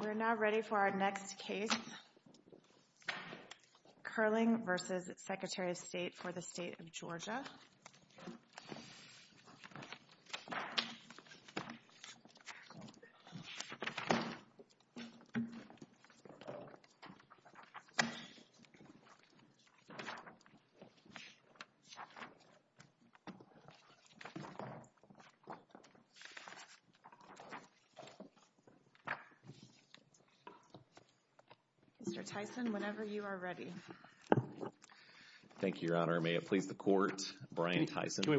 We are now ready for our next case, Curling v. Secretary of State for the State of Georgia. Mr. Tyson, whenever you are ready. Thank you, Your Honor. May it please the Court, Brian Tyson. Thank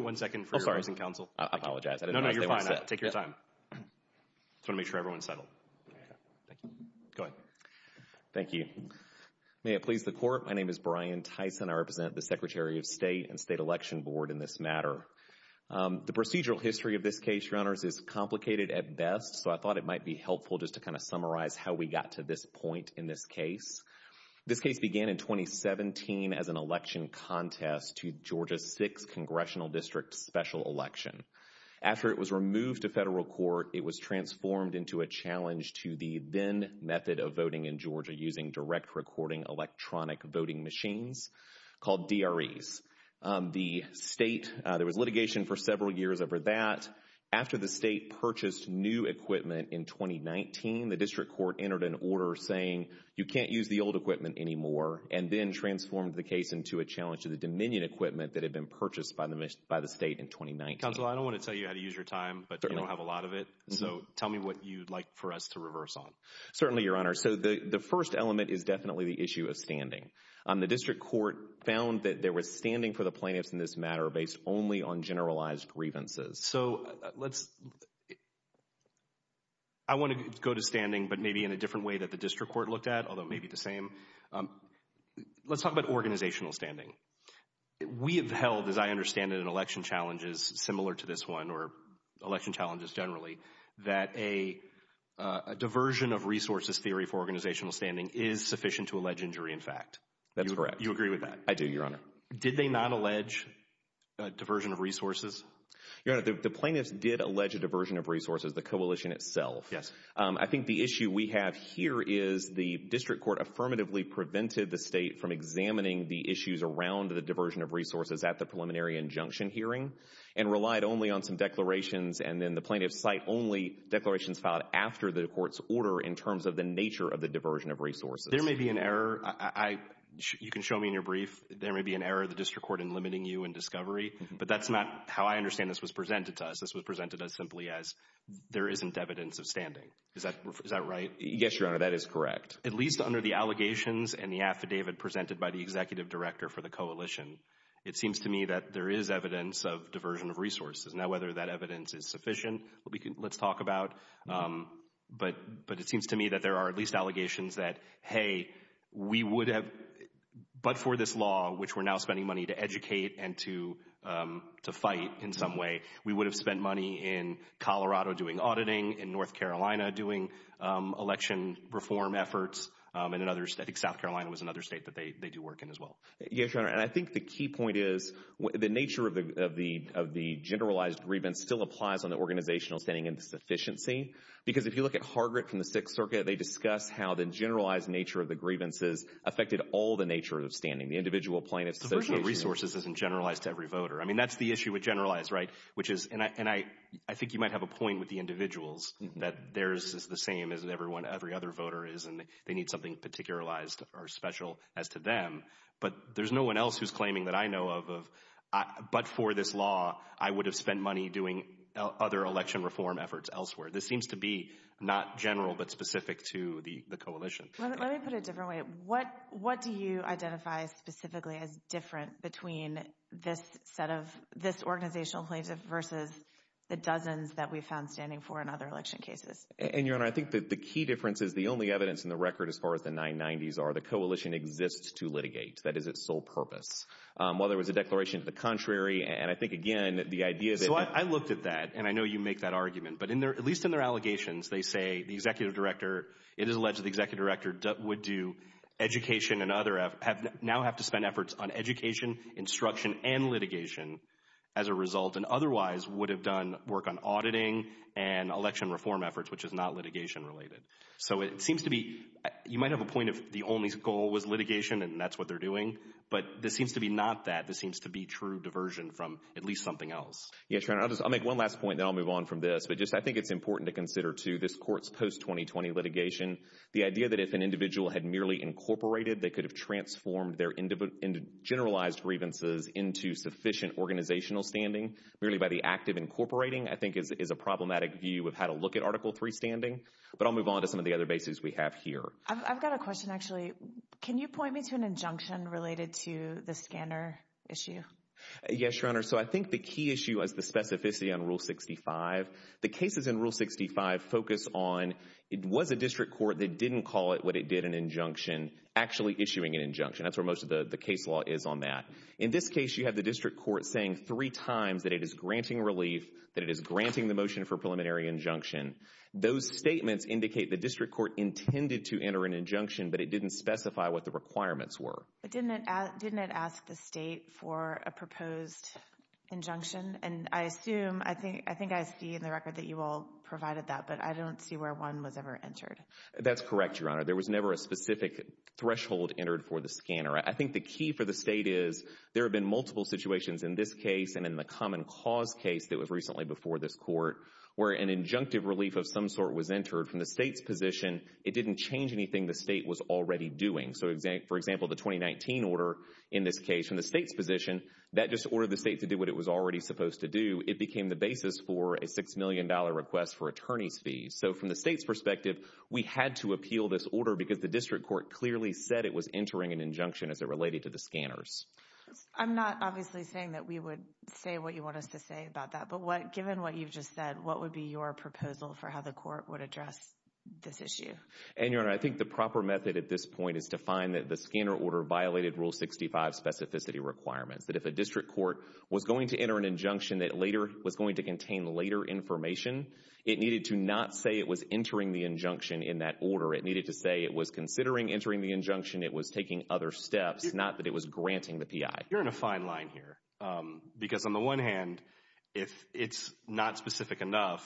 you. May it please the Court, my name is Brian Tyson. I represent the Secretary of State and State Election Board in this matter. The procedural history of this case, Your Honors, is complicated at best, so I thought it might be helpful just to kind of summarize how we got to this point in this case. This case began in 2017 as an election contest to Georgia's 6th Congressional District Special Election. After it was removed to federal court, it was transformed into a challenge to the then method of voting in Georgia using direct recording electronic voting machines called DREs. The state, there was litigation for several years over that. After the state purchased new equipment in 2019, the district court entered an order saying you can't use the old equipment anymore, and then transformed the case into a challenge to the Dominion equipment that had been purchased by the state in 2019. Counsel, I don't want to tell you how to use your time, but you don't have a lot of it, so tell me what you'd like for us to reverse on. Certainly, Your Honor. So the first element is definitely the issue of standing. The district court found that there was standing for the plaintiffs in this matter based only on generalized grievances. So let's, I want to go to standing, but maybe in a different way that the district court looked at, although maybe the same. Let's talk about organizational standing. We have held, as I understand it in election challenges similar to this one or election challenges generally, that a diversion of resources theory for organizational standing is sufficient to allege injury in fact. That's correct. You agree with that? I do, Your Honor. Did they not allege a diversion of resources? Your Honor, the plaintiffs did allege a diversion of resources, the coalition itself. I think the issue we have here is the district court affirmatively prevented the state from examining the issues around the diversion of resources at the preliminary injunction hearing and relied only on some declarations and then the plaintiffs cite only declarations filed after the court's order in terms of the nature of the diversion of resources. There may be an error, you can show me in your brief, there may be an error of the district court in limiting you in discovery, but that's not how I understand this was presented to us. This was presented to us simply as there isn't evidence of standing. Is that right? Yes, Your Honor, that is correct. At least under the allegations and the affidavit presented by the executive director for the coalition, it seems to me that there is evidence of diversion of resources. Now, whether that evidence is sufficient, let's talk about, but it seems to me that there are at least allegations that, hey, we would have, but for this law, which we're now spending money to educate and to fight in some way, we would have spent money in Colorado doing auditing, in North Carolina doing election reform efforts, and I think South Carolina was another state that they do work in as well. Yes, Your Honor, and I think the key point is the nature of the generalized grievance still applies on the organizational standing and sufficiency because if you look at Harvard from the Sixth Circuit, they discuss how the generalized nature of the grievances affected all the nature of standing, the individual plaintiffs association. Diversion of resources isn't generalized to every voter. I mean, that's the issue with generalized, right, which is, and I think you might have a point with the individuals that theirs is the same as everyone, every other voter is, and they need something particularized or special as to them, but there's no one else who's claiming that I know of, but for this law, I would have spent money doing other election reform efforts elsewhere. This seems to be not general but specific to the coalition. Let me put it a different way. What do you identify specifically as different between this set of, this organizational plaintiff versus the dozens that we found standing for in other election cases? And, Your Honor, I think that the key difference is the only evidence in the record as far as the 990s are the coalition exists to litigate. That is its sole purpose. While there was a declaration of the contrary, and I think, again, the idea that So I looked at that, and I know you make that argument, but at least in their allegations, they say the executive director, it is alleged that the executive director would do education and other, now have to spend efforts on education, instruction, and litigation as a result, and otherwise would have done work on auditing and election reform efforts, which is not litigation related. So it seems to be, you might have a point of the only goal was litigation, and that's what they're doing, but this seems to be not that. This seems to be true diversion from at least something else. Yes, Your Honor. I'll make one last point, then I'll move on from this, but just I think it's important to consider, too, this court's post-2020 litigation. The idea that if an individual had merely incorporated, they could have transformed their generalized grievances into sufficient organizational standing, really by the act of incorporating, I think is a problematic view of how to look at Article III standing, but I'll move on to some of the other bases we have here. I've got a question, actually. Can you point me to an injunction related to the scanner issue? Yes, Your Honor. So I think the key issue is the specificity on Rule 65. The cases in Rule 65 focus on it was a district court that didn't call it what it did, an injunction, actually issuing an injunction. That's where most of the case law is on that. In this case, you have the district court saying three times that it is granting relief, that it is granting the motion for preliminary injunction. Those statements indicate the district court intended to enter an injunction, but it didn't specify what the requirements were. But didn't it ask the state for a proposed injunction? And I assume, I think I see in the record that you all provided that, but I don't see where one was ever entered. That's correct, Your Honor. There was never a specific threshold entered for the scanner. I think the key for the state is there have been multiple situations in this case and in the common cause case that was recently before this court where an injunctive relief of some sort was entered from the state's position. It didn't change anything the state was already doing. So, for example, the 2019 order in this case from the state's position, that just ordered the state to do what it was already supposed to do. It became the basis for a $6 million request for attorney's fees. So, from the state's perspective, we had to appeal this order because the district court clearly said it was entering an injunction as it related to the scanners. I'm not obviously saying that we would say what you want us to say about that. But given what you've just said, what would be your proposal for how the court would address this issue? And, Your Honor, I think the proper method at this point is to find that the scanner order violated Rule 65 specificity requirements, that if a district court was going to enter an injunction that later was going to contain later information, it needed to not say it was entering the injunction in that order. It needed to say it was considering entering the injunction, it was taking other steps, not that it was granting the PI. You're in a fine line here. Because on the one hand, if it's not specific enough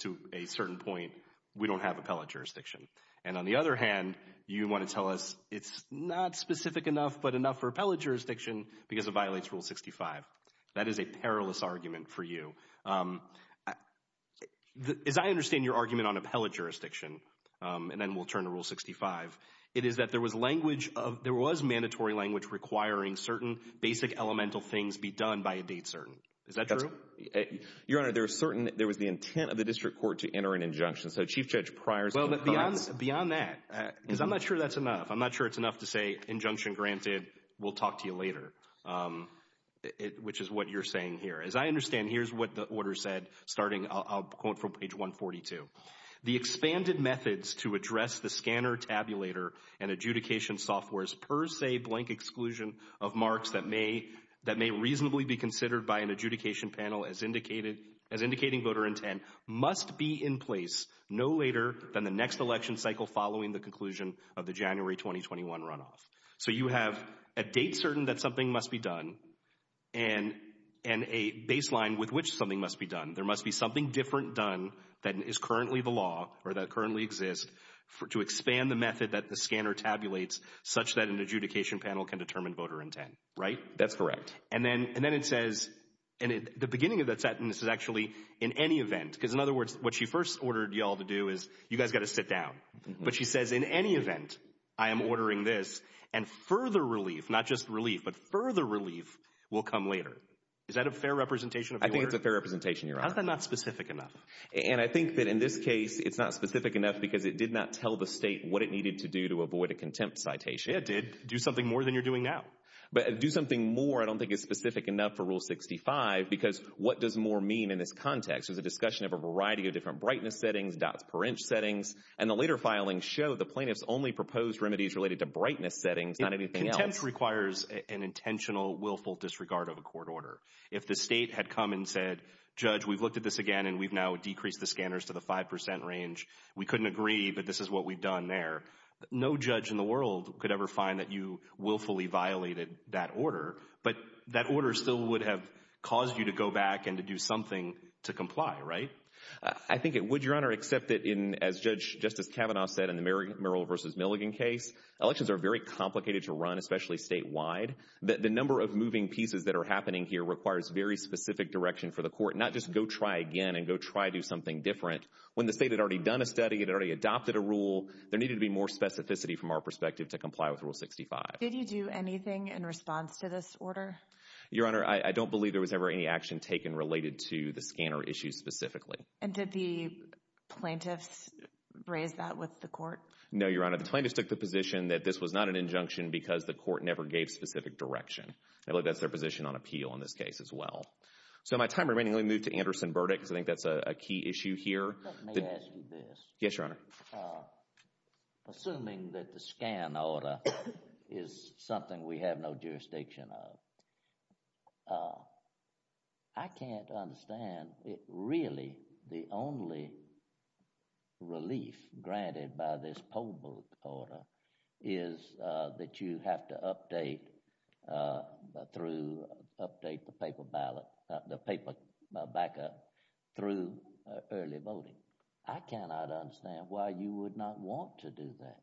to a certain point, we don't have appellate jurisdiction. And on the other hand, you want to tell us it's not specific enough but enough for appellate jurisdiction because it violates Rule 65. That is a perilous argument for you. As I understand your argument on appellate jurisdiction, and then we'll turn to Rule 65, it is that there was mandatory language requiring certain basic elemental things be done by a date certain. Is that true? Your Honor, there was the intent of the district court to enter an injunction. So Chief Judge Pryor's complaints— Beyond that, because I'm not sure that's enough. I'm not sure it's enough to say injunction granted, we'll talk to you later, which is what you're saying here. As I understand, here's what the order said, starting, I'll quote from page 142. The expanded methods to address the scanner, tabulator, and adjudication software's per se, blank exclusion of marks that may reasonably be considered by an adjudication panel as indicating voter intent must be in place no later than the next election cycle following the conclusion of the January 2021 runoff. So you have a date certain that something must be done and a baseline with which something must be done. There must be something different done that is currently the law or that currently exists to expand the method that the scanner tabulates such that an adjudication panel can determine voter intent. Right? That's correct. And then it says, the beginning of that sentence is actually, in any event, because in other words, what she first ordered you all to do is, you guys got to sit down. But she says, in any event, I am ordering this and further relief, not just relief, but further relief will come later. Is that a fair representation of the order? I think it's a fair representation, Your Honor. How's that not specific enough? And I think that in this case, it's not specific enough because it did not tell the state what it needed to do to avoid a contempt citation. Yeah, it did. Do something more than you're doing now. But do something more I don't think is specific enough for Rule 65 because what does more mean in this context? There's a discussion of a variety of different brightness settings, dots per inch settings, and the later filings show the plaintiffs only proposed remedies related to brightness settings, not anything else. Contempt requires an intentional, willful disregard of a court order. If the state had come and said, Judge, we've looked at this again, and we've now decreased the scanners to the 5% range, we couldn't agree, but this is what we've done there, no judge in the world could ever find that you willfully violated that order. But that order still would have caused you to go back and to do something to comply, right? I think it would, Your Honor, except that as Judge Justice Kavanaugh said in the Merrill v. Milligan case, elections are very complicated to run, especially statewide. The number of moving pieces that are happening here requires very specific direction for the court, not just go try again and go try to do something different. When the state had already done a study, it had already adopted a rule, there needed to be more specificity from our perspective to comply with Rule 65. Did you do anything in response to this order? Your Honor, I don't believe there was ever any action taken related to the scanner issue specifically. And did the plaintiffs raise that with the court? No, Your Honor. The plaintiffs took the position that this was not an injunction because the court never gave specific direction. I believe that's their position on appeal in this case as well. So my time remaining, let me move to Anderson Burdick because I think that's a key issue here. Let me ask you this. Yes, Your Honor. Assuming that the scan order is something we have no jurisdiction of, I can't understand really the only relief granted by this poll book order is that you have to update the paper backup through early voting. I cannot understand why you would not want to do that.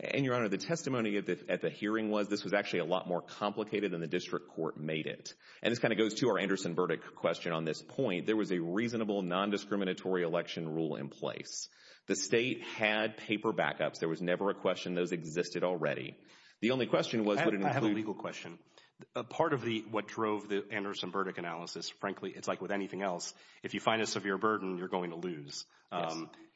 And, Your Honor, the testimony at the hearing was this was actually a lot more complicated than the district court made it. And this kind of goes to our Anderson Burdick question on this point. There was a reasonable nondiscriminatory election rule in place. The state had paper backups. There was never a question those existed already. The only question was would it include… I have a legal question. Part of what drove the Anderson Burdick analysis, frankly, it's like with anything else, if you find a severe burden, you're going to lose.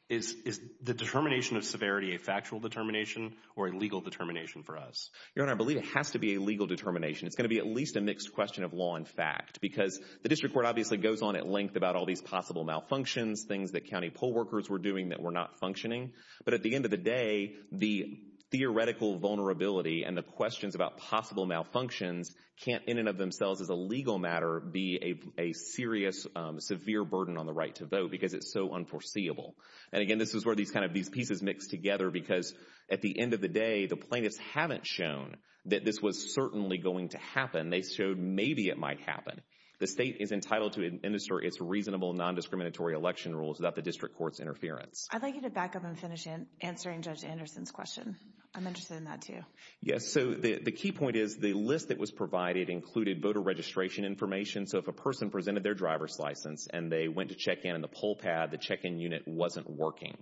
Is the determination of severity a factual determination or a legal determination for us? Your Honor, I believe it has to be a legal determination. It's going to be at least a mixed question of law and fact because the district court obviously goes on at length about all these possible malfunctions, things that county poll workers were doing that were not functioning. But at the end of the day, the theoretical vulnerability and the questions about possible malfunctions can't in and of themselves as a legal matter be a serious, severe burden on the right to vote because it's so unforeseeable. And, again, this is where these pieces mix together because at the end of the day, the plaintiffs haven't shown that this was certainly going to happen. They showed maybe it might happen. The state is entitled to administer its reasonable non-discriminatory election rules without the district court's interference. I'd like you to back up and finish answering Judge Anderson's question. I'm interested in that, too. Yes. So the key point is the list that was provided included voter registration information. So if a person presented their driver's license and they went to check in on the poll pad, the check-in unit wasn't working.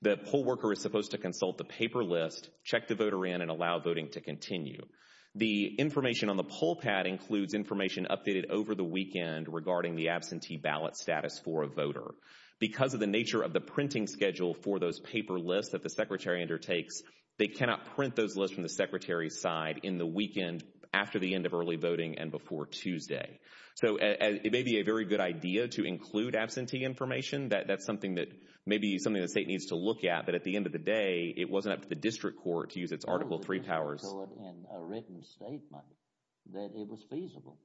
The poll worker is supposed to consult the paper list, check the voter in, and allow voting to continue. The information on the poll pad includes information updated over the weekend regarding the absentee ballot status for a voter. Because of the nature of the printing schedule for those paper lists that the secretary undertakes, they cannot print those lists from the secretary's side in the weekend after the end of early voting and before Tuesday. So it may be a very good idea to include absentee information. That's something that maybe the state needs to look at. But at the end of the day, it wasn't up to the district court to use its Article III powers. You told the district court in a written statement that it was feasible.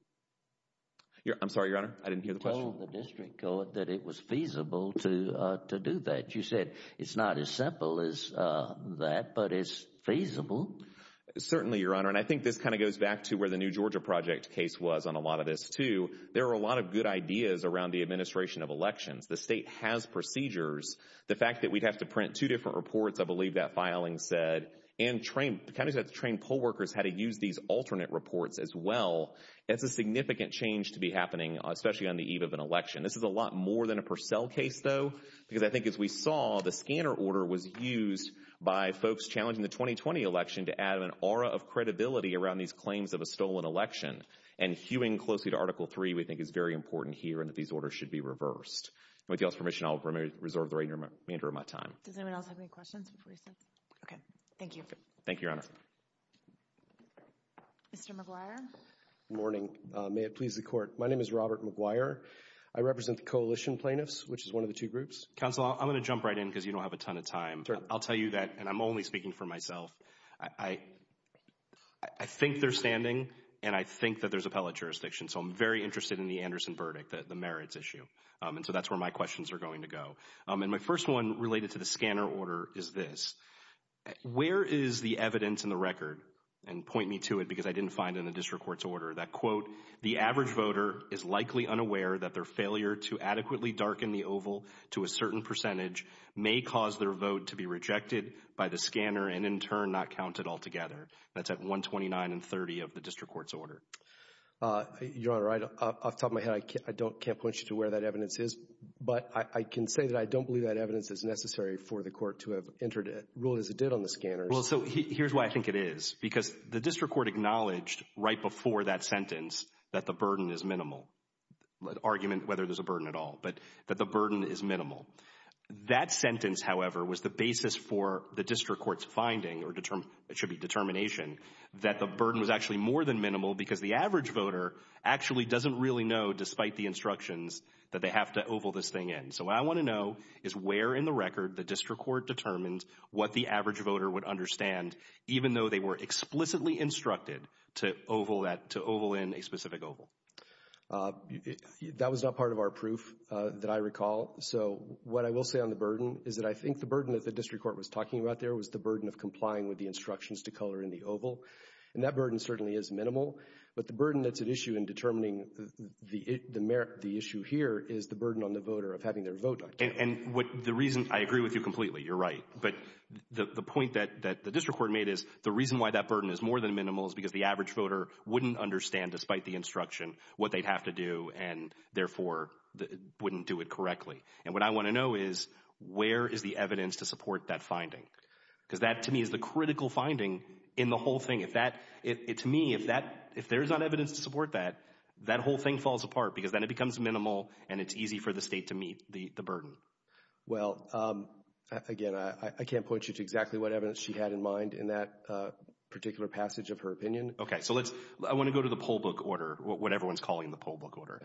I'm sorry, Your Honor. I didn't hear the question. You told the district court that it was feasible to do that. You said it's not as simple as that, but it's feasible. Certainly, Your Honor. And I think this kind of goes back to where the New Georgia Project case was on a lot of this, too. There were a lot of good ideas around the administration of elections. The state has procedures. The fact that we'd have to print two different reports, I believe that filing said, and counties have to train poll workers how to use these alternate reports as well. That's a significant change to be happening, especially on the eve of an election. This is a lot more than a Purcell case, though, because I think as we saw, the scanner order was used by folks challenging the 2020 election to add an aura of credibility around these claims of a stolen election. And hewing closely to Article III we think is very important here and that these orders should be reversed. With your permission, I'll reserve the remainder of my time. Does anyone else have any questions before he sits? Okay. Thank you. Thank you, Your Honor. Mr. McGuire. Good morning. May it please the Court. My name is Robert McGuire. I represent the coalition plaintiffs, which is one of the two groups. Counsel, I'm going to jump right in because you don't have a ton of time. I'll tell you that, and I'm only speaking for myself, I think they're standing, and I think that there's appellate jurisdiction. So I'm very interested in the Anderson verdict, the merits issue. And so that's where my questions are going to go. And my first one related to the scanner order is this. Where is the evidence in the record, and point me to it because I didn't find it in the district court's order, that, quote, the average voter is likely unaware that their failure to adequately darken the oval to a certain percentage may cause their vote to be rejected by the scanner and, in turn, not counted altogether. That's at 129 and 30 of the district court's order. Your Honor, off the top of my head, I can't point you to where that evidence is, but I can say that I don't believe that evidence is necessary for the court to have entered a rule as it did on the scanners. Well, so here's why I think it is. Because the district court acknowledged right before that sentence that the burden is minimal, an argument whether there's a burden at all, but that the burden is minimal. That sentence, however, was the basis for the district court's finding, or it should be determination, that the burden was actually more than minimal because the average voter actually doesn't really know, despite the instructions, that they have to oval this thing in. So what I want to know is where in the record the district court determined what the average voter would understand, even though they were explicitly instructed to oval in a specific oval. That was not part of our proof that I recall. So what I will say on the burden is that I think the burden that the district court was talking about there was the burden of complying with the instructions to color in the oval. And that burden certainly is minimal, but the burden that's at issue in determining the issue here is the burden on the voter of having their vote not counted. And the reason I agree with you completely, you're right, but the point that the district court made is the reason why that burden is more than minimal is because the average voter wouldn't understand, despite the instruction, what they'd have to do and therefore wouldn't do it correctly. And what I want to know is where is the evidence to support that finding? Because that, to me, is the critical finding in the whole thing. To me, if there's not evidence to support that, that whole thing falls apart because then it becomes minimal and it's easy for the state to meet the burden. Well, again, I can't point you to exactly what evidence she had in mind in that particular passage of her opinion. Okay, so I want to go to the poll book order, what everyone's calling the poll book order.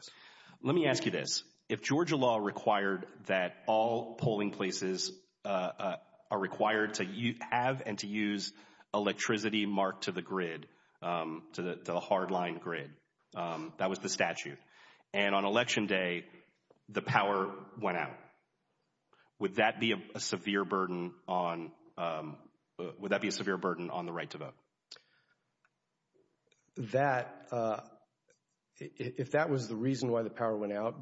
Let me ask you this. If Georgia law required that all polling places are required to have and to use electricity marked to the grid, to the hard-line grid, that was the statute, and on Election Day the power went out, that, if that was the reason why the power went out,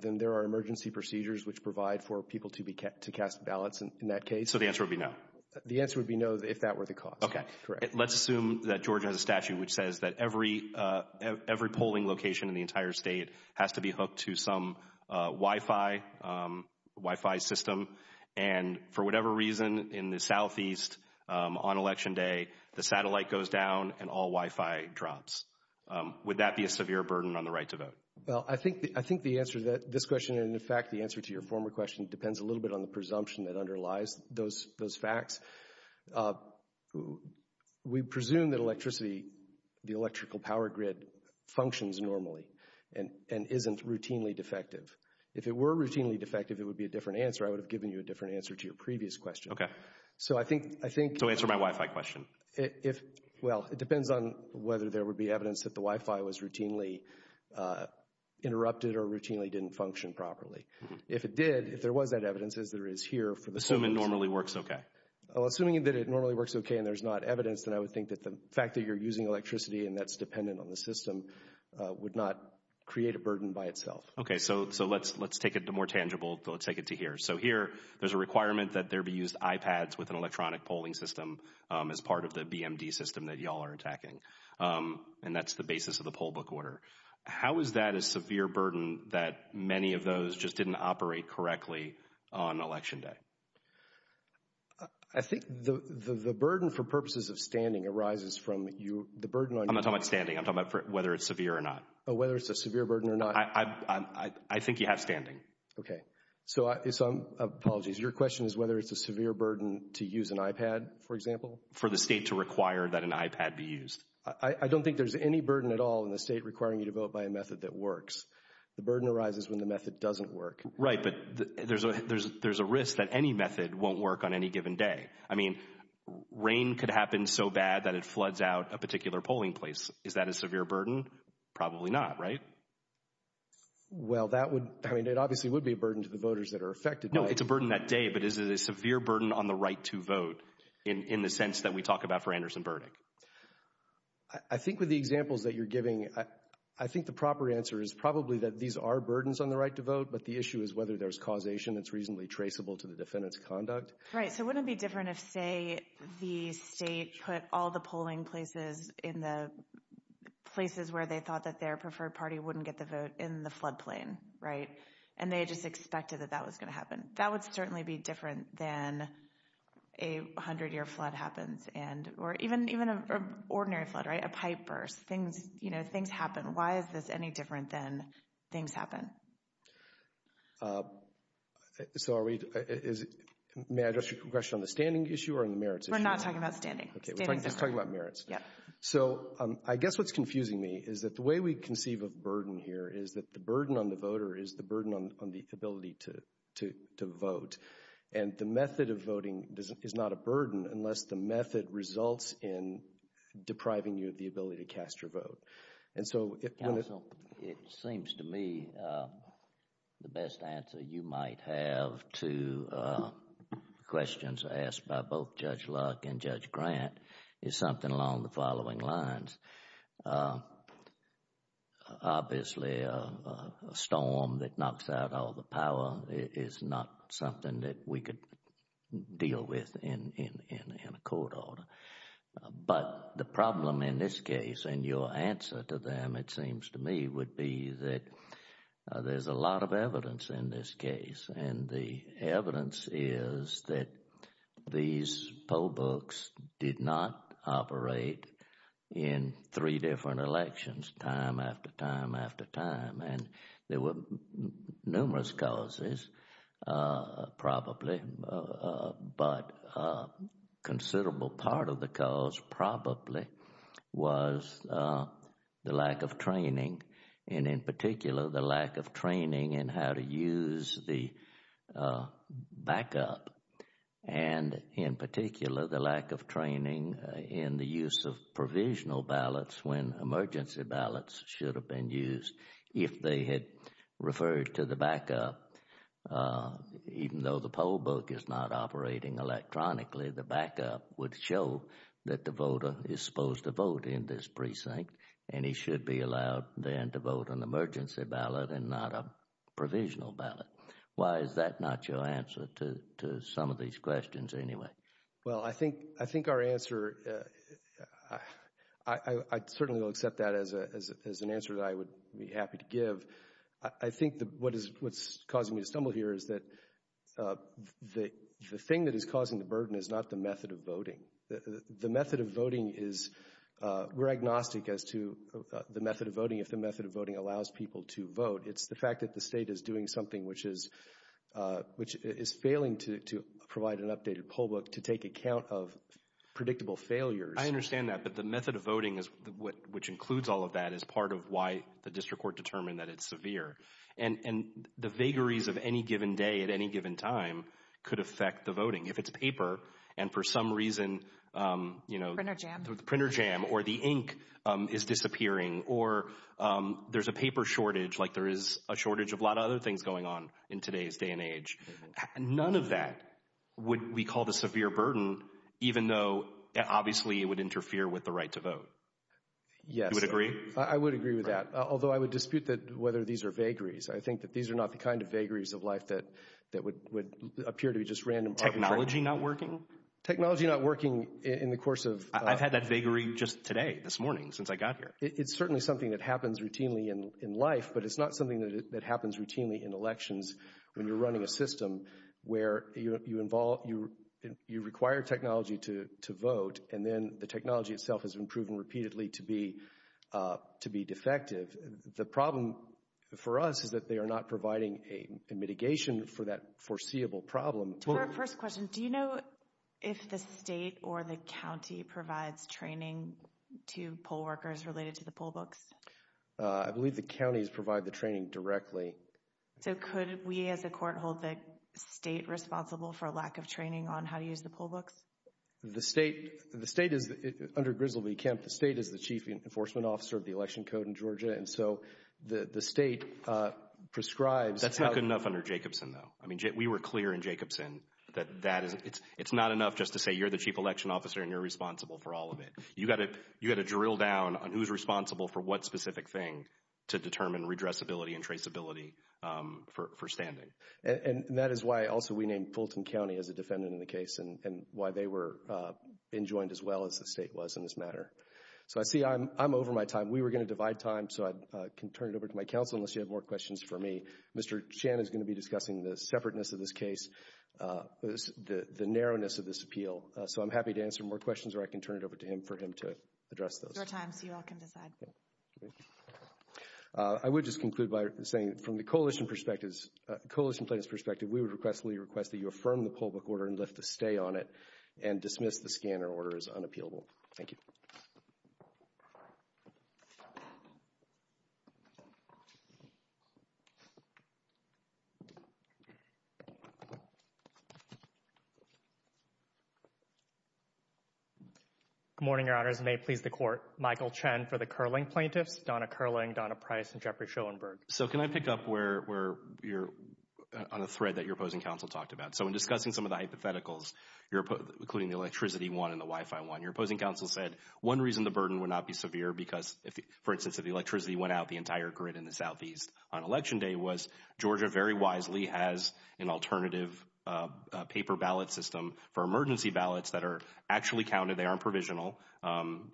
then there are emergency procedures which provide for people to cast ballots in that case. So the answer would be no. The answer would be no if that were the cause. Okay, correct. Let's assume that Georgia has a statute which says that every polling location in the entire state has to be hooked to some Wi-Fi system, and for whatever reason in the southeast on Election Day, the satellite goes down and all Wi-Fi drops. Would that be a severe burden on the right to vote? Well, I think the answer to this question, and in fact the answer to your former question, depends a little bit on the presumption that underlies those facts. We presume that electricity, the electrical power grid, functions normally and isn't routinely defective. If it were routinely defective, it would be a different answer. I would have given you a different answer to your previous question. Okay. So I think— So answer my Wi-Fi question. Well, it depends on whether there would be evidence that the Wi-Fi was routinely interrupted or routinely didn't function properly. If it did, if there was that evidence, as there is here— Assuming it normally works okay. Assuming that it normally works okay and there's not evidence, then I would think that the fact that you're using electricity and that's dependent on the system would not create a burden by itself. Okay, so let's take it to more tangible. Let's take it to here. So here there's a requirement that there be used iPads with an electronic polling system as part of the BMD system that you all are attacking, and that's the basis of the poll book order. How is that a severe burden that many of those just didn't operate correctly on Election Day? I think the burden for purposes of standing arises from you— I'm not talking about standing. I'm talking about whether it's severe or not. Whether it's a severe burden or not. I think you have standing. Okay, so apologies. Your question is whether it's a severe burden to use an iPad, for example? For the state to require that an iPad be used. I don't think there's any burden at all in the state requiring you to vote by a method that works. The burden arises when the method doesn't work. Right, but there's a risk that any method won't work on any given day. I mean, rain could happen so bad that it floods out a particular polling place. Is that a severe burden? Probably not, right? Well, that would— I mean, it obviously would be a burden to the voters that are affected. No, it's a burden that day, but is it a severe burden on the right to vote in the sense that we talk about for Anderson-Burnick? I think with the examples that you're giving, I think the proper answer is probably that these are burdens on the right to vote, but the issue is whether there's causation that's reasonably traceable to the defendant's conduct. Right, so wouldn't it be different if, say, the state put all the polling places in the places where they thought that their preferred party wouldn't get the vote in the floodplain, right? And they just expected that that was going to happen. That would certainly be different than a 100-year flood happens or even an ordinary flood, right, a pipe burst. Things happen. Why is this any different than things happen? So are we— May I address your question on the standing issue or on the merits issue? We're not talking about standing. Okay, we're just talking about merits. Yeah. So I guess what's confusing me is that the way we conceive of burden here is that the burden on the voter is the burden on the ability to vote, and the method of voting is not a burden unless the method results in depriving you of the ability to cast your vote. And so— Counsel, it seems to me the best answer you might have to questions asked by both Judge Luck and Judge Grant is something along the following lines. Obviously, a storm that knocks out all the power is not something that we could deal with in a court order. But the problem in this case, and your answer to them, it seems to me would be that there's a lot of evidence in this case and the evidence is that these poll books did not operate in three different elections, time after time after time. And there were numerous causes probably, but a considerable part of the cause probably was the lack of training, and in particular, the lack of training in how to use the backup, and in particular, the lack of training in the use of provisional ballots when emergency ballots should have been used. If they had referred to the backup, even though the poll book is not operating electronically, the backup would show that the voter is supposed to vote in this precinct and he should be allowed then to vote an emergency ballot and not a provisional ballot. Why is that not your answer to some of these questions anyway? Well, I think our answer, I certainly will accept that as an answer that I would be happy to give. I think what's causing me to stumble here is that we're agnostic as to the method of voting, if the method of voting allows people to vote. It's the fact that the state is doing something which is failing to provide an updated poll book to take account of predictable failures. I understand that, but the method of voting, which includes all of that, is part of why the district court determined that it's severe. And the vagaries of any given day at any given time could affect the voting. If it's paper and for some reason the printer jam or the ink is disappearing or there's a paper shortage, like there is a shortage of a lot of other things going on in today's day and age, none of that would be called a severe burden, even though obviously it would interfere with the right to vote. Yes. You would agree? I would agree with that, although I would dispute that whether these are vagaries. I think that these are not the kind of vagaries of life that would appear to be just random. Technology not working? Technology not working in the course of— I've had that vagary just today, this morning, since I got here. It's certainly something that happens routinely in life, but it's not something that happens routinely in elections when you're running a system where you require technology to vote and then the technology itself has been proven repeatedly to be defective. The problem for us is that they are not providing a mitigation for that foreseeable problem. To our first question, do you know if the state or the county provides training to poll workers related to the poll books? I believe the counties provide the training directly. So could we, as a court, hold the state responsible for a lack of training on how to use the poll books? The state is, under Griswold v. Kemp, the state is the chief enforcement officer of the election code in Georgia, and so the state prescribes— That's not good enough under Jacobson, though. We were clear in Jacobson that it's not enough just to say, you're the chief election officer and you're responsible for all of it. You've got to drill down on who's responsible for what specific thing to determine redressability and traceability for standing. And that is why, also, we named Fulton County as a defendant in the case and why they were enjoined as well as the state was in this matter. So I see I'm over my time. We were going to divide time, so I can turn it over to my counsel unless you have more questions for me. Mr. Chan is going to be discussing the separateness of this case, the narrowness of this appeal. So I'm happy to answer more questions, or I can turn it over to him for him to address those. There's more time, so you all can decide. I would just conclude by saying, from the coalition plaintiff's perspective, we would request that you affirm the public order and lift the stay on it and dismiss the scanner order as unappealable. Thank you. Good morning, Your Honors. May it please the Court, Michael Chen for the Kerling plaintiffs, Donna Kerling, Donna Price, and Jeffrey Schoenberg. So can I pick up on a thread that your opposing counsel talked about? So in discussing some of the hypotheticals, including the electricity one and the Wi-Fi one, your opposing counsel said one reason the burden would not be severe because, for instance, if the electricity went out, the entire grid in the southeast on Election Day was Georgia very wisely has an alternative paper ballot system for emergency ballots that are actually counted, they aren't provisional,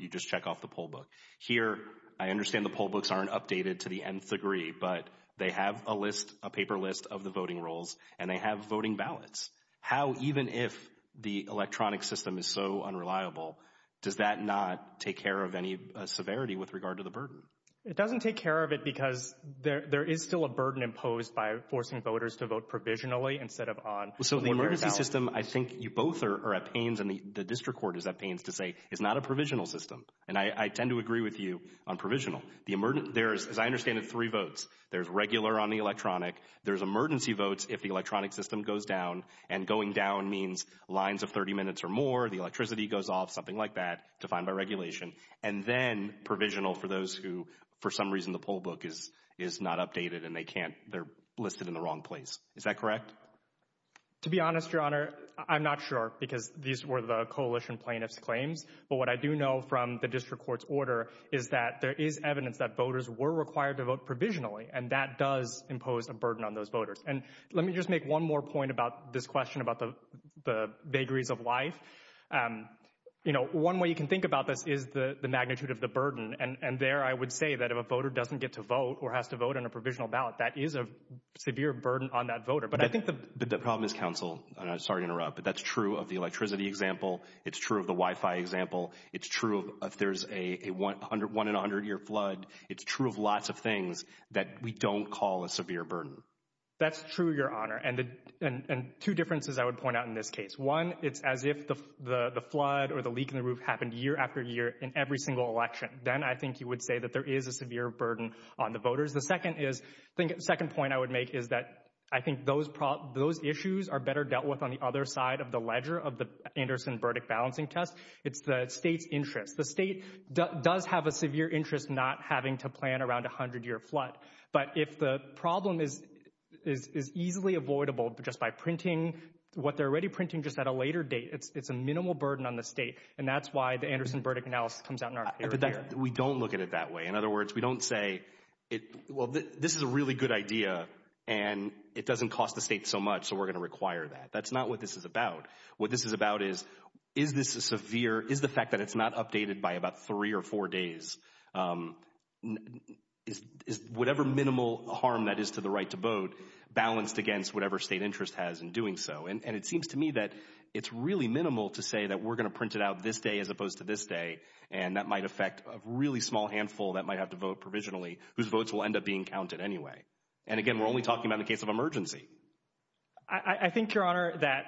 you just check off the poll book. Here, I understand the poll books aren't updated to the nth degree, but they have a list, a paper list of the voting rolls, and they have voting ballots. How, even if the electronic system is so unreliable, does that not take care of any severity with regard to the burden? It doesn't take care of it because there is still a burden imposed by forcing voters to vote provisionally instead of on the emergency ballot. So the emergency system, I think you both are at pains, and the district court is at pains to say it's not a provisional system. And I tend to agree with you on provisional. There is, as I understand it, three votes. There's regular on the electronic, there's emergency votes if the electronic system goes down, and going down means lines of 30 minutes or more, the electricity goes off, something like that, defined by regulation. And then provisional for those who, for some reason, the poll book is not updated and they can't, they're listed in the wrong place. Is that correct? To be honest, Your Honor, I'm not sure because these were the coalition plaintiff's claims. But what I do know from the district court's order is that there is evidence that voters were required to vote provisionally, and that does impose a burden on those voters. And let me just make one more point about this question about the vagaries of life. You know, one way you can think about this is the magnitude of the burden. And there I would say that if a voter doesn't get to vote or has to vote on a provisional ballot, that is a severe burden on that voter. But I think the problem is counsel, and I'm sorry to interrupt, but that's true of the electricity example. It's true of the Wi-Fi example. It's true if there's a one in a hundred year flood. It's true of lots of things that we don't call a severe burden. That's true, Your Honor. And two differences I would point out in this case. One, it's as if the flood or the leak in the roof happened year after year in every single election. Then I think you would say that there is a severe burden on the voters. The second point I would make is that I think those issues are better dealt with on the other side of the ledger of the Anderson-Burdick balancing test. It's the state's interest. The state does have a severe interest not having to plan around a hundred year flood. But if the problem is easily avoidable just by printing what they're already printing just at a later date, it's a minimal burden on the state. And that's why the Anderson-Burdick analysis comes out in our favor here. We don't look at it that way. In other words, we don't say, well, this is a really good idea, and it doesn't cost the state so much, so we're going to require that. That's not what this is about. What this is about is, is the fact that it's not updated by about three or four days, is whatever minimal harm that is to the right to vote balanced against whatever state interest has in doing so? And it seems to me that it's really minimal to say that we're going to print it out this day as opposed to this day, and that might affect a really small handful that might have to vote provisionally whose votes will end up being counted anyway. And, again, we're only talking about the case of emergency. I think, Your Honor, that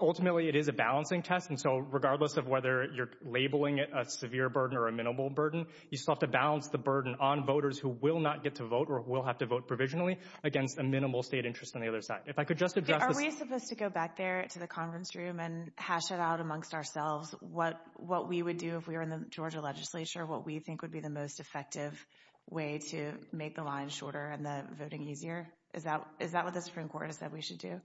ultimately it is a balancing test. And so regardless of whether you're labeling it a severe burden or a minimal burden, you still have to balance the burden on voters who will not get to vote or will have to vote provisionally against a minimal state interest on the other side. If I could just address this. Are we supposed to go back there to the conference room and hash it out amongst ourselves what we would do if we were in the Georgia legislature, what we think would be the most effective way to make the line shorter and the voting easier? Is that what the Supreme Court has said we should do?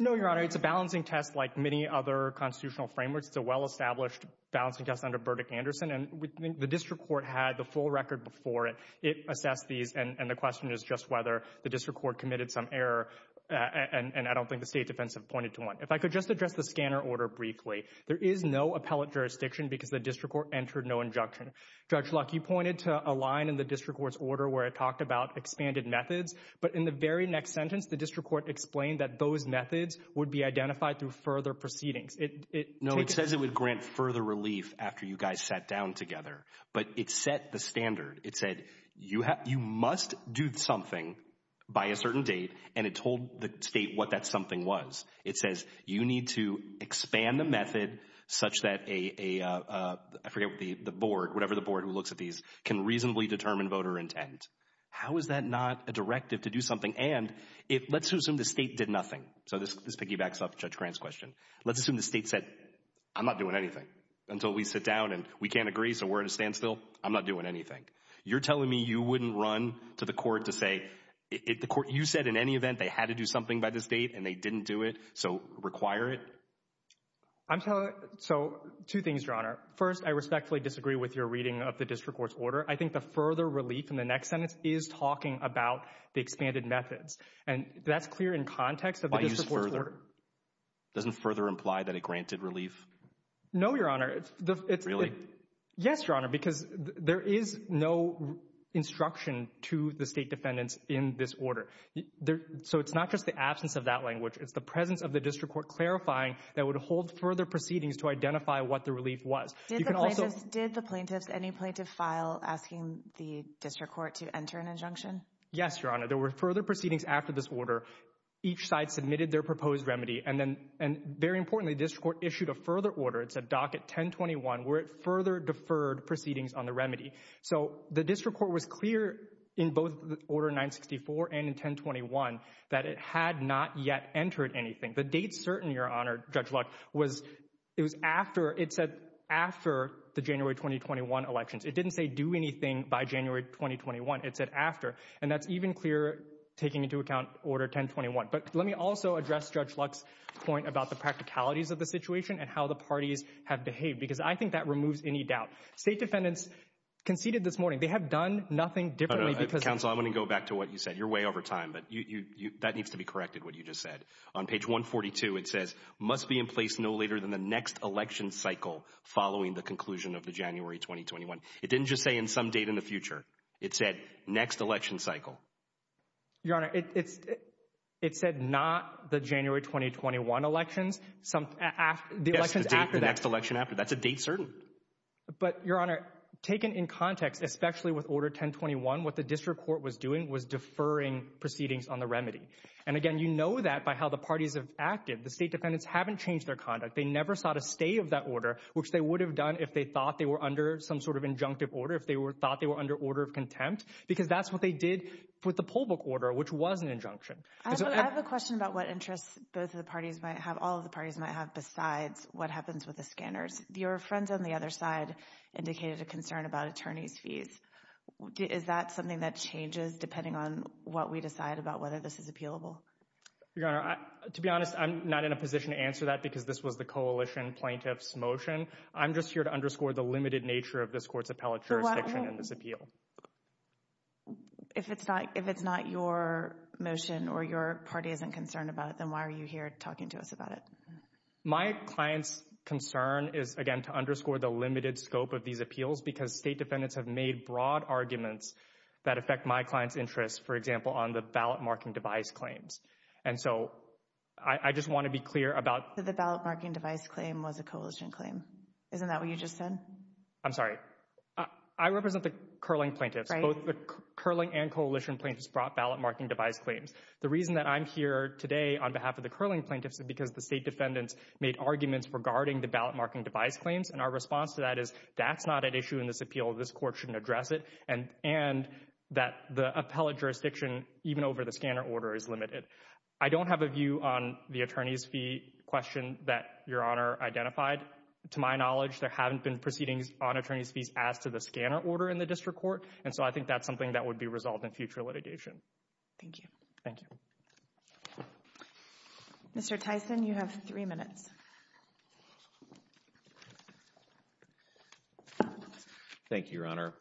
No, Your Honor. It's a balancing test like many other constitutional frameworks. It's a well-established balancing test under Burdick-Anderson, and the district court had the full record before it. It assessed these, and the question is just whether the district court committed some error, and I don't think the state defense have pointed to one. If I could just address the scanner order briefly. There is no appellate jurisdiction because the district court entered no injunction. Judge Luck, you pointed to a line in the district court's order where it talked about expanded methods, but in the very next sentence, the district court explained that those methods would be identified through further proceedings. No, it says it would grant further relief after you guys sat down together, but it set the standard. It said you must do something by a certain date, and it told the state what that something was. It says you need to expand the method such that a, I forget what the board, whatever the board who looks at these, can reasonably determine voter intent. How is that not a directive to do something? And let's assume the state did nothing. So this piggybacks off Judge Grant's question. Let's assume the state said, I'm not doing anything until we sit down and we can't agree, so we're at a standstill. I'm not doing anything. You're telling me you wouldn't run to the court to say, you said in any event they had to do something by this date and they didn't do it, so require it? So two things, Your Honor. First, I respectfully disagree with your reading of the district court's order. I think the further relief in the next sentence is talking about the expanded methods, and that's clear in context of the district court's order. Why use further? Doesn't further imply that it granted relief? No, Your Honor. Really? Yes, Your Honor, because there is no instruction to the state defendants in this order. So it's not just the absence of that language. It's the presence of the district court clarifying that it would hold further proceedings to identify what the relief was. Did the plaintiffs, any plaintiff, file asking the district court to enter an injunction? Yes, Your Honor. There were further proceedings after this order. Each side submitted their proposed remedy, and very importantly, the district court issued a further order. It's at Docket 1021 where it further deferred proceedings on the remedy. So the district court was clear in both Order 964 and in 1021 that it had not yet entered anything. The date certain, Your Honor, Judge Luck, was it was after it said after the January 2021 elections. It didn't say do anything by January 2021. It said after, and that's even clearer taking into account Order 1021. But let me also address Judge Luck's point about the practicalities of the situation and how the parties have behaved because I think that removes any doubt. State defendants conceded this morning. They have done nothing differently because— Counsel, I want to go back to what you said. You're way over time, but that needs to be corrected, what you just said. On page 142, it says, must be in place no later than the next election cycle following the conclusion of the January 2021. It didn't just say in some date in the future. It said next election cycle. Your Honor, it said not the January 2021 elections. Yes, the next election after. That's a date certain. But, Your Honor, taken in context, especially with Order 1021, what the district court was doing was deferring proceedings on the remedy. And again, you know that by how the parties have acted. The state defendants haven't changed their conduct. They never sought a stay of that order, which they would have done if they thought they were under some sort of injunctive order, if they thought they were under order of contempt, because that's what they did with the poll book order, which was an injunction. I have a question about what interests both of the parties might have, all of the parties might have, besides what happens with the scanners. Your friends on the other side indicated a concern about attorneys' fees. Is that something that changes depending on what we decide about whether this is appealable? Your Honor, to be honest, I'm not in a position to answer that because this was the coalition plaintiff's motion. I'm just here to underscore the limited nature of this court's appellate jurisdiction and this appeal. If it's not your motion or your party isn't concerned about it, then why are you here talking to us about it? My client's concern is, again, to underscore the limited scope of these appeals because state defendants have made broad arguments that affect my client's interests, for example, on the ballot marking device claims. And so I just want to be clear about— The ballot marking device claim was a coalition claim. Isn't that what you just said? I'm sorry. I represent the curling plaintiffs. Both the curling and coalition plaintiffs brought ballot marking device claims. The reason that I'm here today on behalf of the curling plaintiffs is because the state defendants made arguments regarding the ballot marking device claims, and our response to that is that's not at issue in this appeal, this court shouldn't address it, and that the appellate jurisdiction, even over the scanner order, is limited. I don't have a view on the attorney's fee question that Your Honor identified. To my knowledge, there haven't been proceedings on attorney's fees as to the scanner order in the district court, and so I think that's something that would be resolved in future litigation. Thank you. Thank you. Mr. Tyson, you have three minutes. Thank you, Your Honor.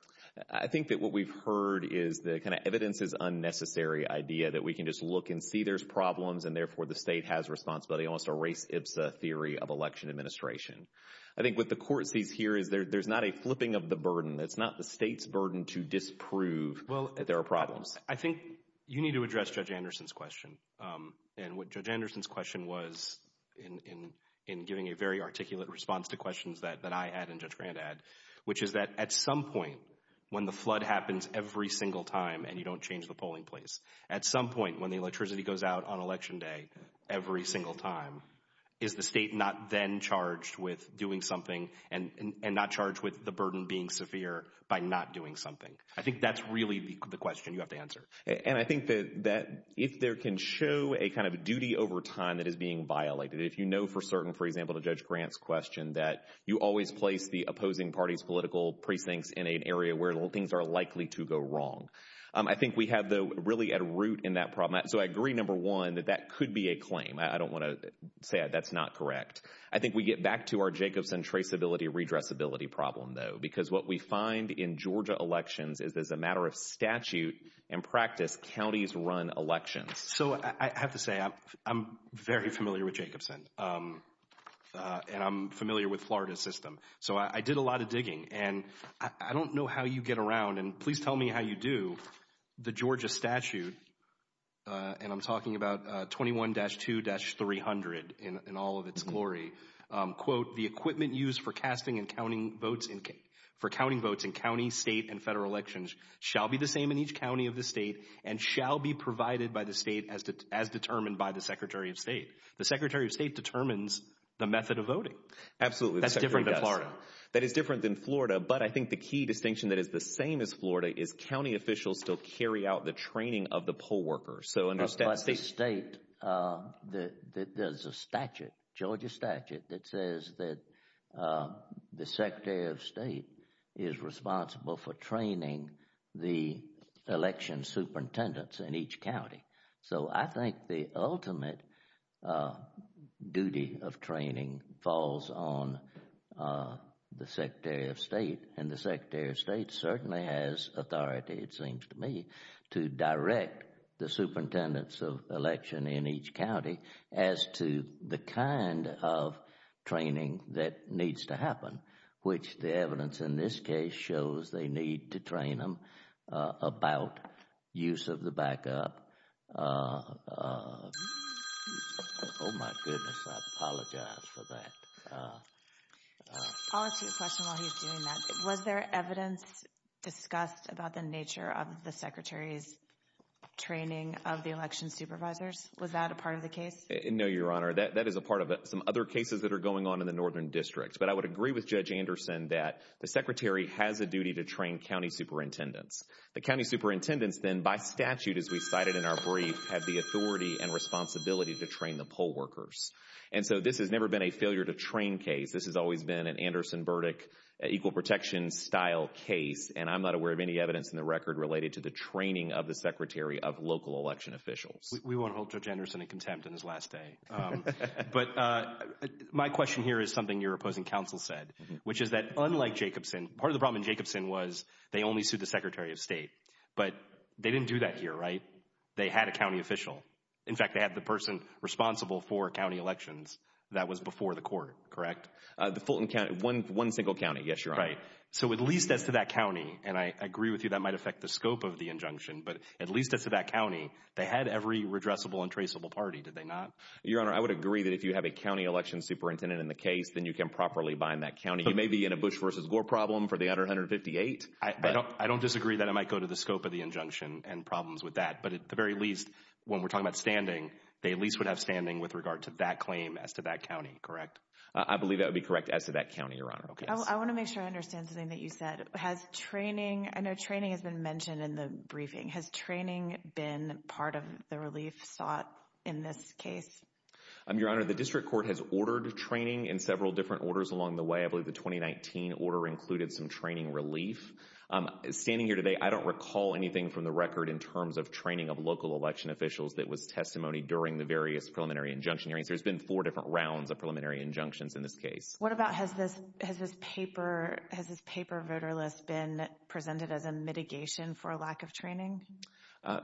I think that what we've heard is the kind of evidence is unnecessary idea that we can just look and see there's problems and therefore the state has responsibility and also erase IPSA theory of election administration. I think what the court sees here is there's not a flipping of the burden. It's not the state's burden to disprove that there are problems. I think you need to address Judge Anderson's question, and what Judge Anderson's question was in giving a very articulate response to questions that I had and Judge Grant had, which is that at some point when the flood happens every single time and you don't change the polling place, at some point when the electricity goes out on election day every single time, is the state not then charged with doing something and not charged with the burden being severe by not doing something? I think that's really the question you have to answer. And I think that if there can show a kind of duty over time that is being violated, if you know for certain, for example, to Judge Grant's question, that you always place the opposing party's political precincts in an area where things are likely to go wrong. I think we have, though, really at root in that problem. So I agree, number one, that that could be a claim. I don't want to say that's not correct. I think we get back to our Jacobson traceability, redressability problem, though, because what we find in Georgia elections is there's a matter of statute and practice counties run elections. So I have to say I'm very familiar with Jacobson, and I'm familiar with Florida's system. So I did a lot of digging, and I don't know how you get around, and please tell me how you do. The Georgia statute, and I'm talking about 21-2-300 in all of its glory, quote, the equipment used for counting votes in counties, states, and federal elections shall be the same in each county of the state and shall be provided by the state as determined by the Secretary of State. The Secretary of State determines the method of voting. Absolutely, the Secretary of State does. That's different than Florida. That is different than Florida, but I think the key distinction that is the same as Florida is county officials still carry out the training of the poll workers. By the state, there's a statute, Georgia statute, that says that the Secretary of State is responsible for training the election superintendents in each county. So I think the ultimate duty of training falls on the Secretary of State, and the Secretary of State certainly has authority, it seems to me, to direct the superintendents of election in each county as to the kind of training that needs to happen, which the evidence in this case shows they need to train them about use of the backup. Oh my goodness, I apologize for that. I'll ask you a question while he's doing that. Was there evidence discussed about the nature of the Secretary's training of the election supervisors? Was that a part of the case? No, Your Honor, that is a part of it. Some other cases that are going on in the northern districts, but I would agree with Judge Anderson that the Secretary has a duty to train county superintendents. The county superintendents then, by statute, as we cited in our brief, have the authority and responsibility to train the poll workers. And so this has never been a failure-to-train case. This has always been an Anderson-Burdick, equal-protection-style case, and I'm not aware of any evidence in the record related to the training of the Secretary of local election officials. We won't hold Judge Anderson in contempt on his last day. But my question here is something your opposing counsel said, which is that unlike Jacobson, part of the problem in Jacobson was they only sued the Secretary of State. But they didn't do that here, right? They had a county official. In fact, they had the person responsible for county elections that was before the court, correct? The Fulton County, one single county, yes, Your Honor. Right. So at least as to that county, and I agree with you, that might affect the scope of the injunction, but at least as to that county, they had every redressable and traceable party, did they not? Your Honor, I would agree that if you have a county election superintendent in the case, then you can properly bind that county. You may be in a Bush versus Gore problem for the under 158. I don't disagree that it might go to the scope of the injunction and problems with that, but at the very least, when we're talking about standing, they at least would have standing with regard to that claim as to that county, correct? I believe that would be correct as to that county, Your Honor. I want to make sure I understand something that you said. Has training – I know training has been mentioned in the briefing. Has training been part of the relief sought in this case? Your Honor, the district court has ordered training in several different orders along the way. I believe the 2019 order included some training relief. Standing here today, I don't recall anything from the record in terms of training of local election officials that was testimony during the various preliminary injunction hearings. There's been four different rounds of preliminary injunctions in this case. What about has this paper voter list been presented as a mitigation for a lack of training?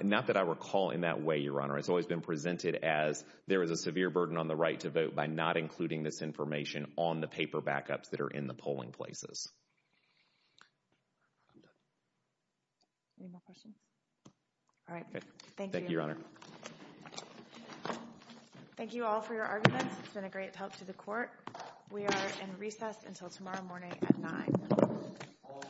Not that I recall in that way, Your Honor. It's always been presented as there is a severe burden on the right to vote by not including this information on the paper backups that are in the polling places. Any more questions? All right. Thank you, Your Honor. Thank you all for your arguments. It's been a great help to the court. We are in recess until tomorrow morning at 9. All rise.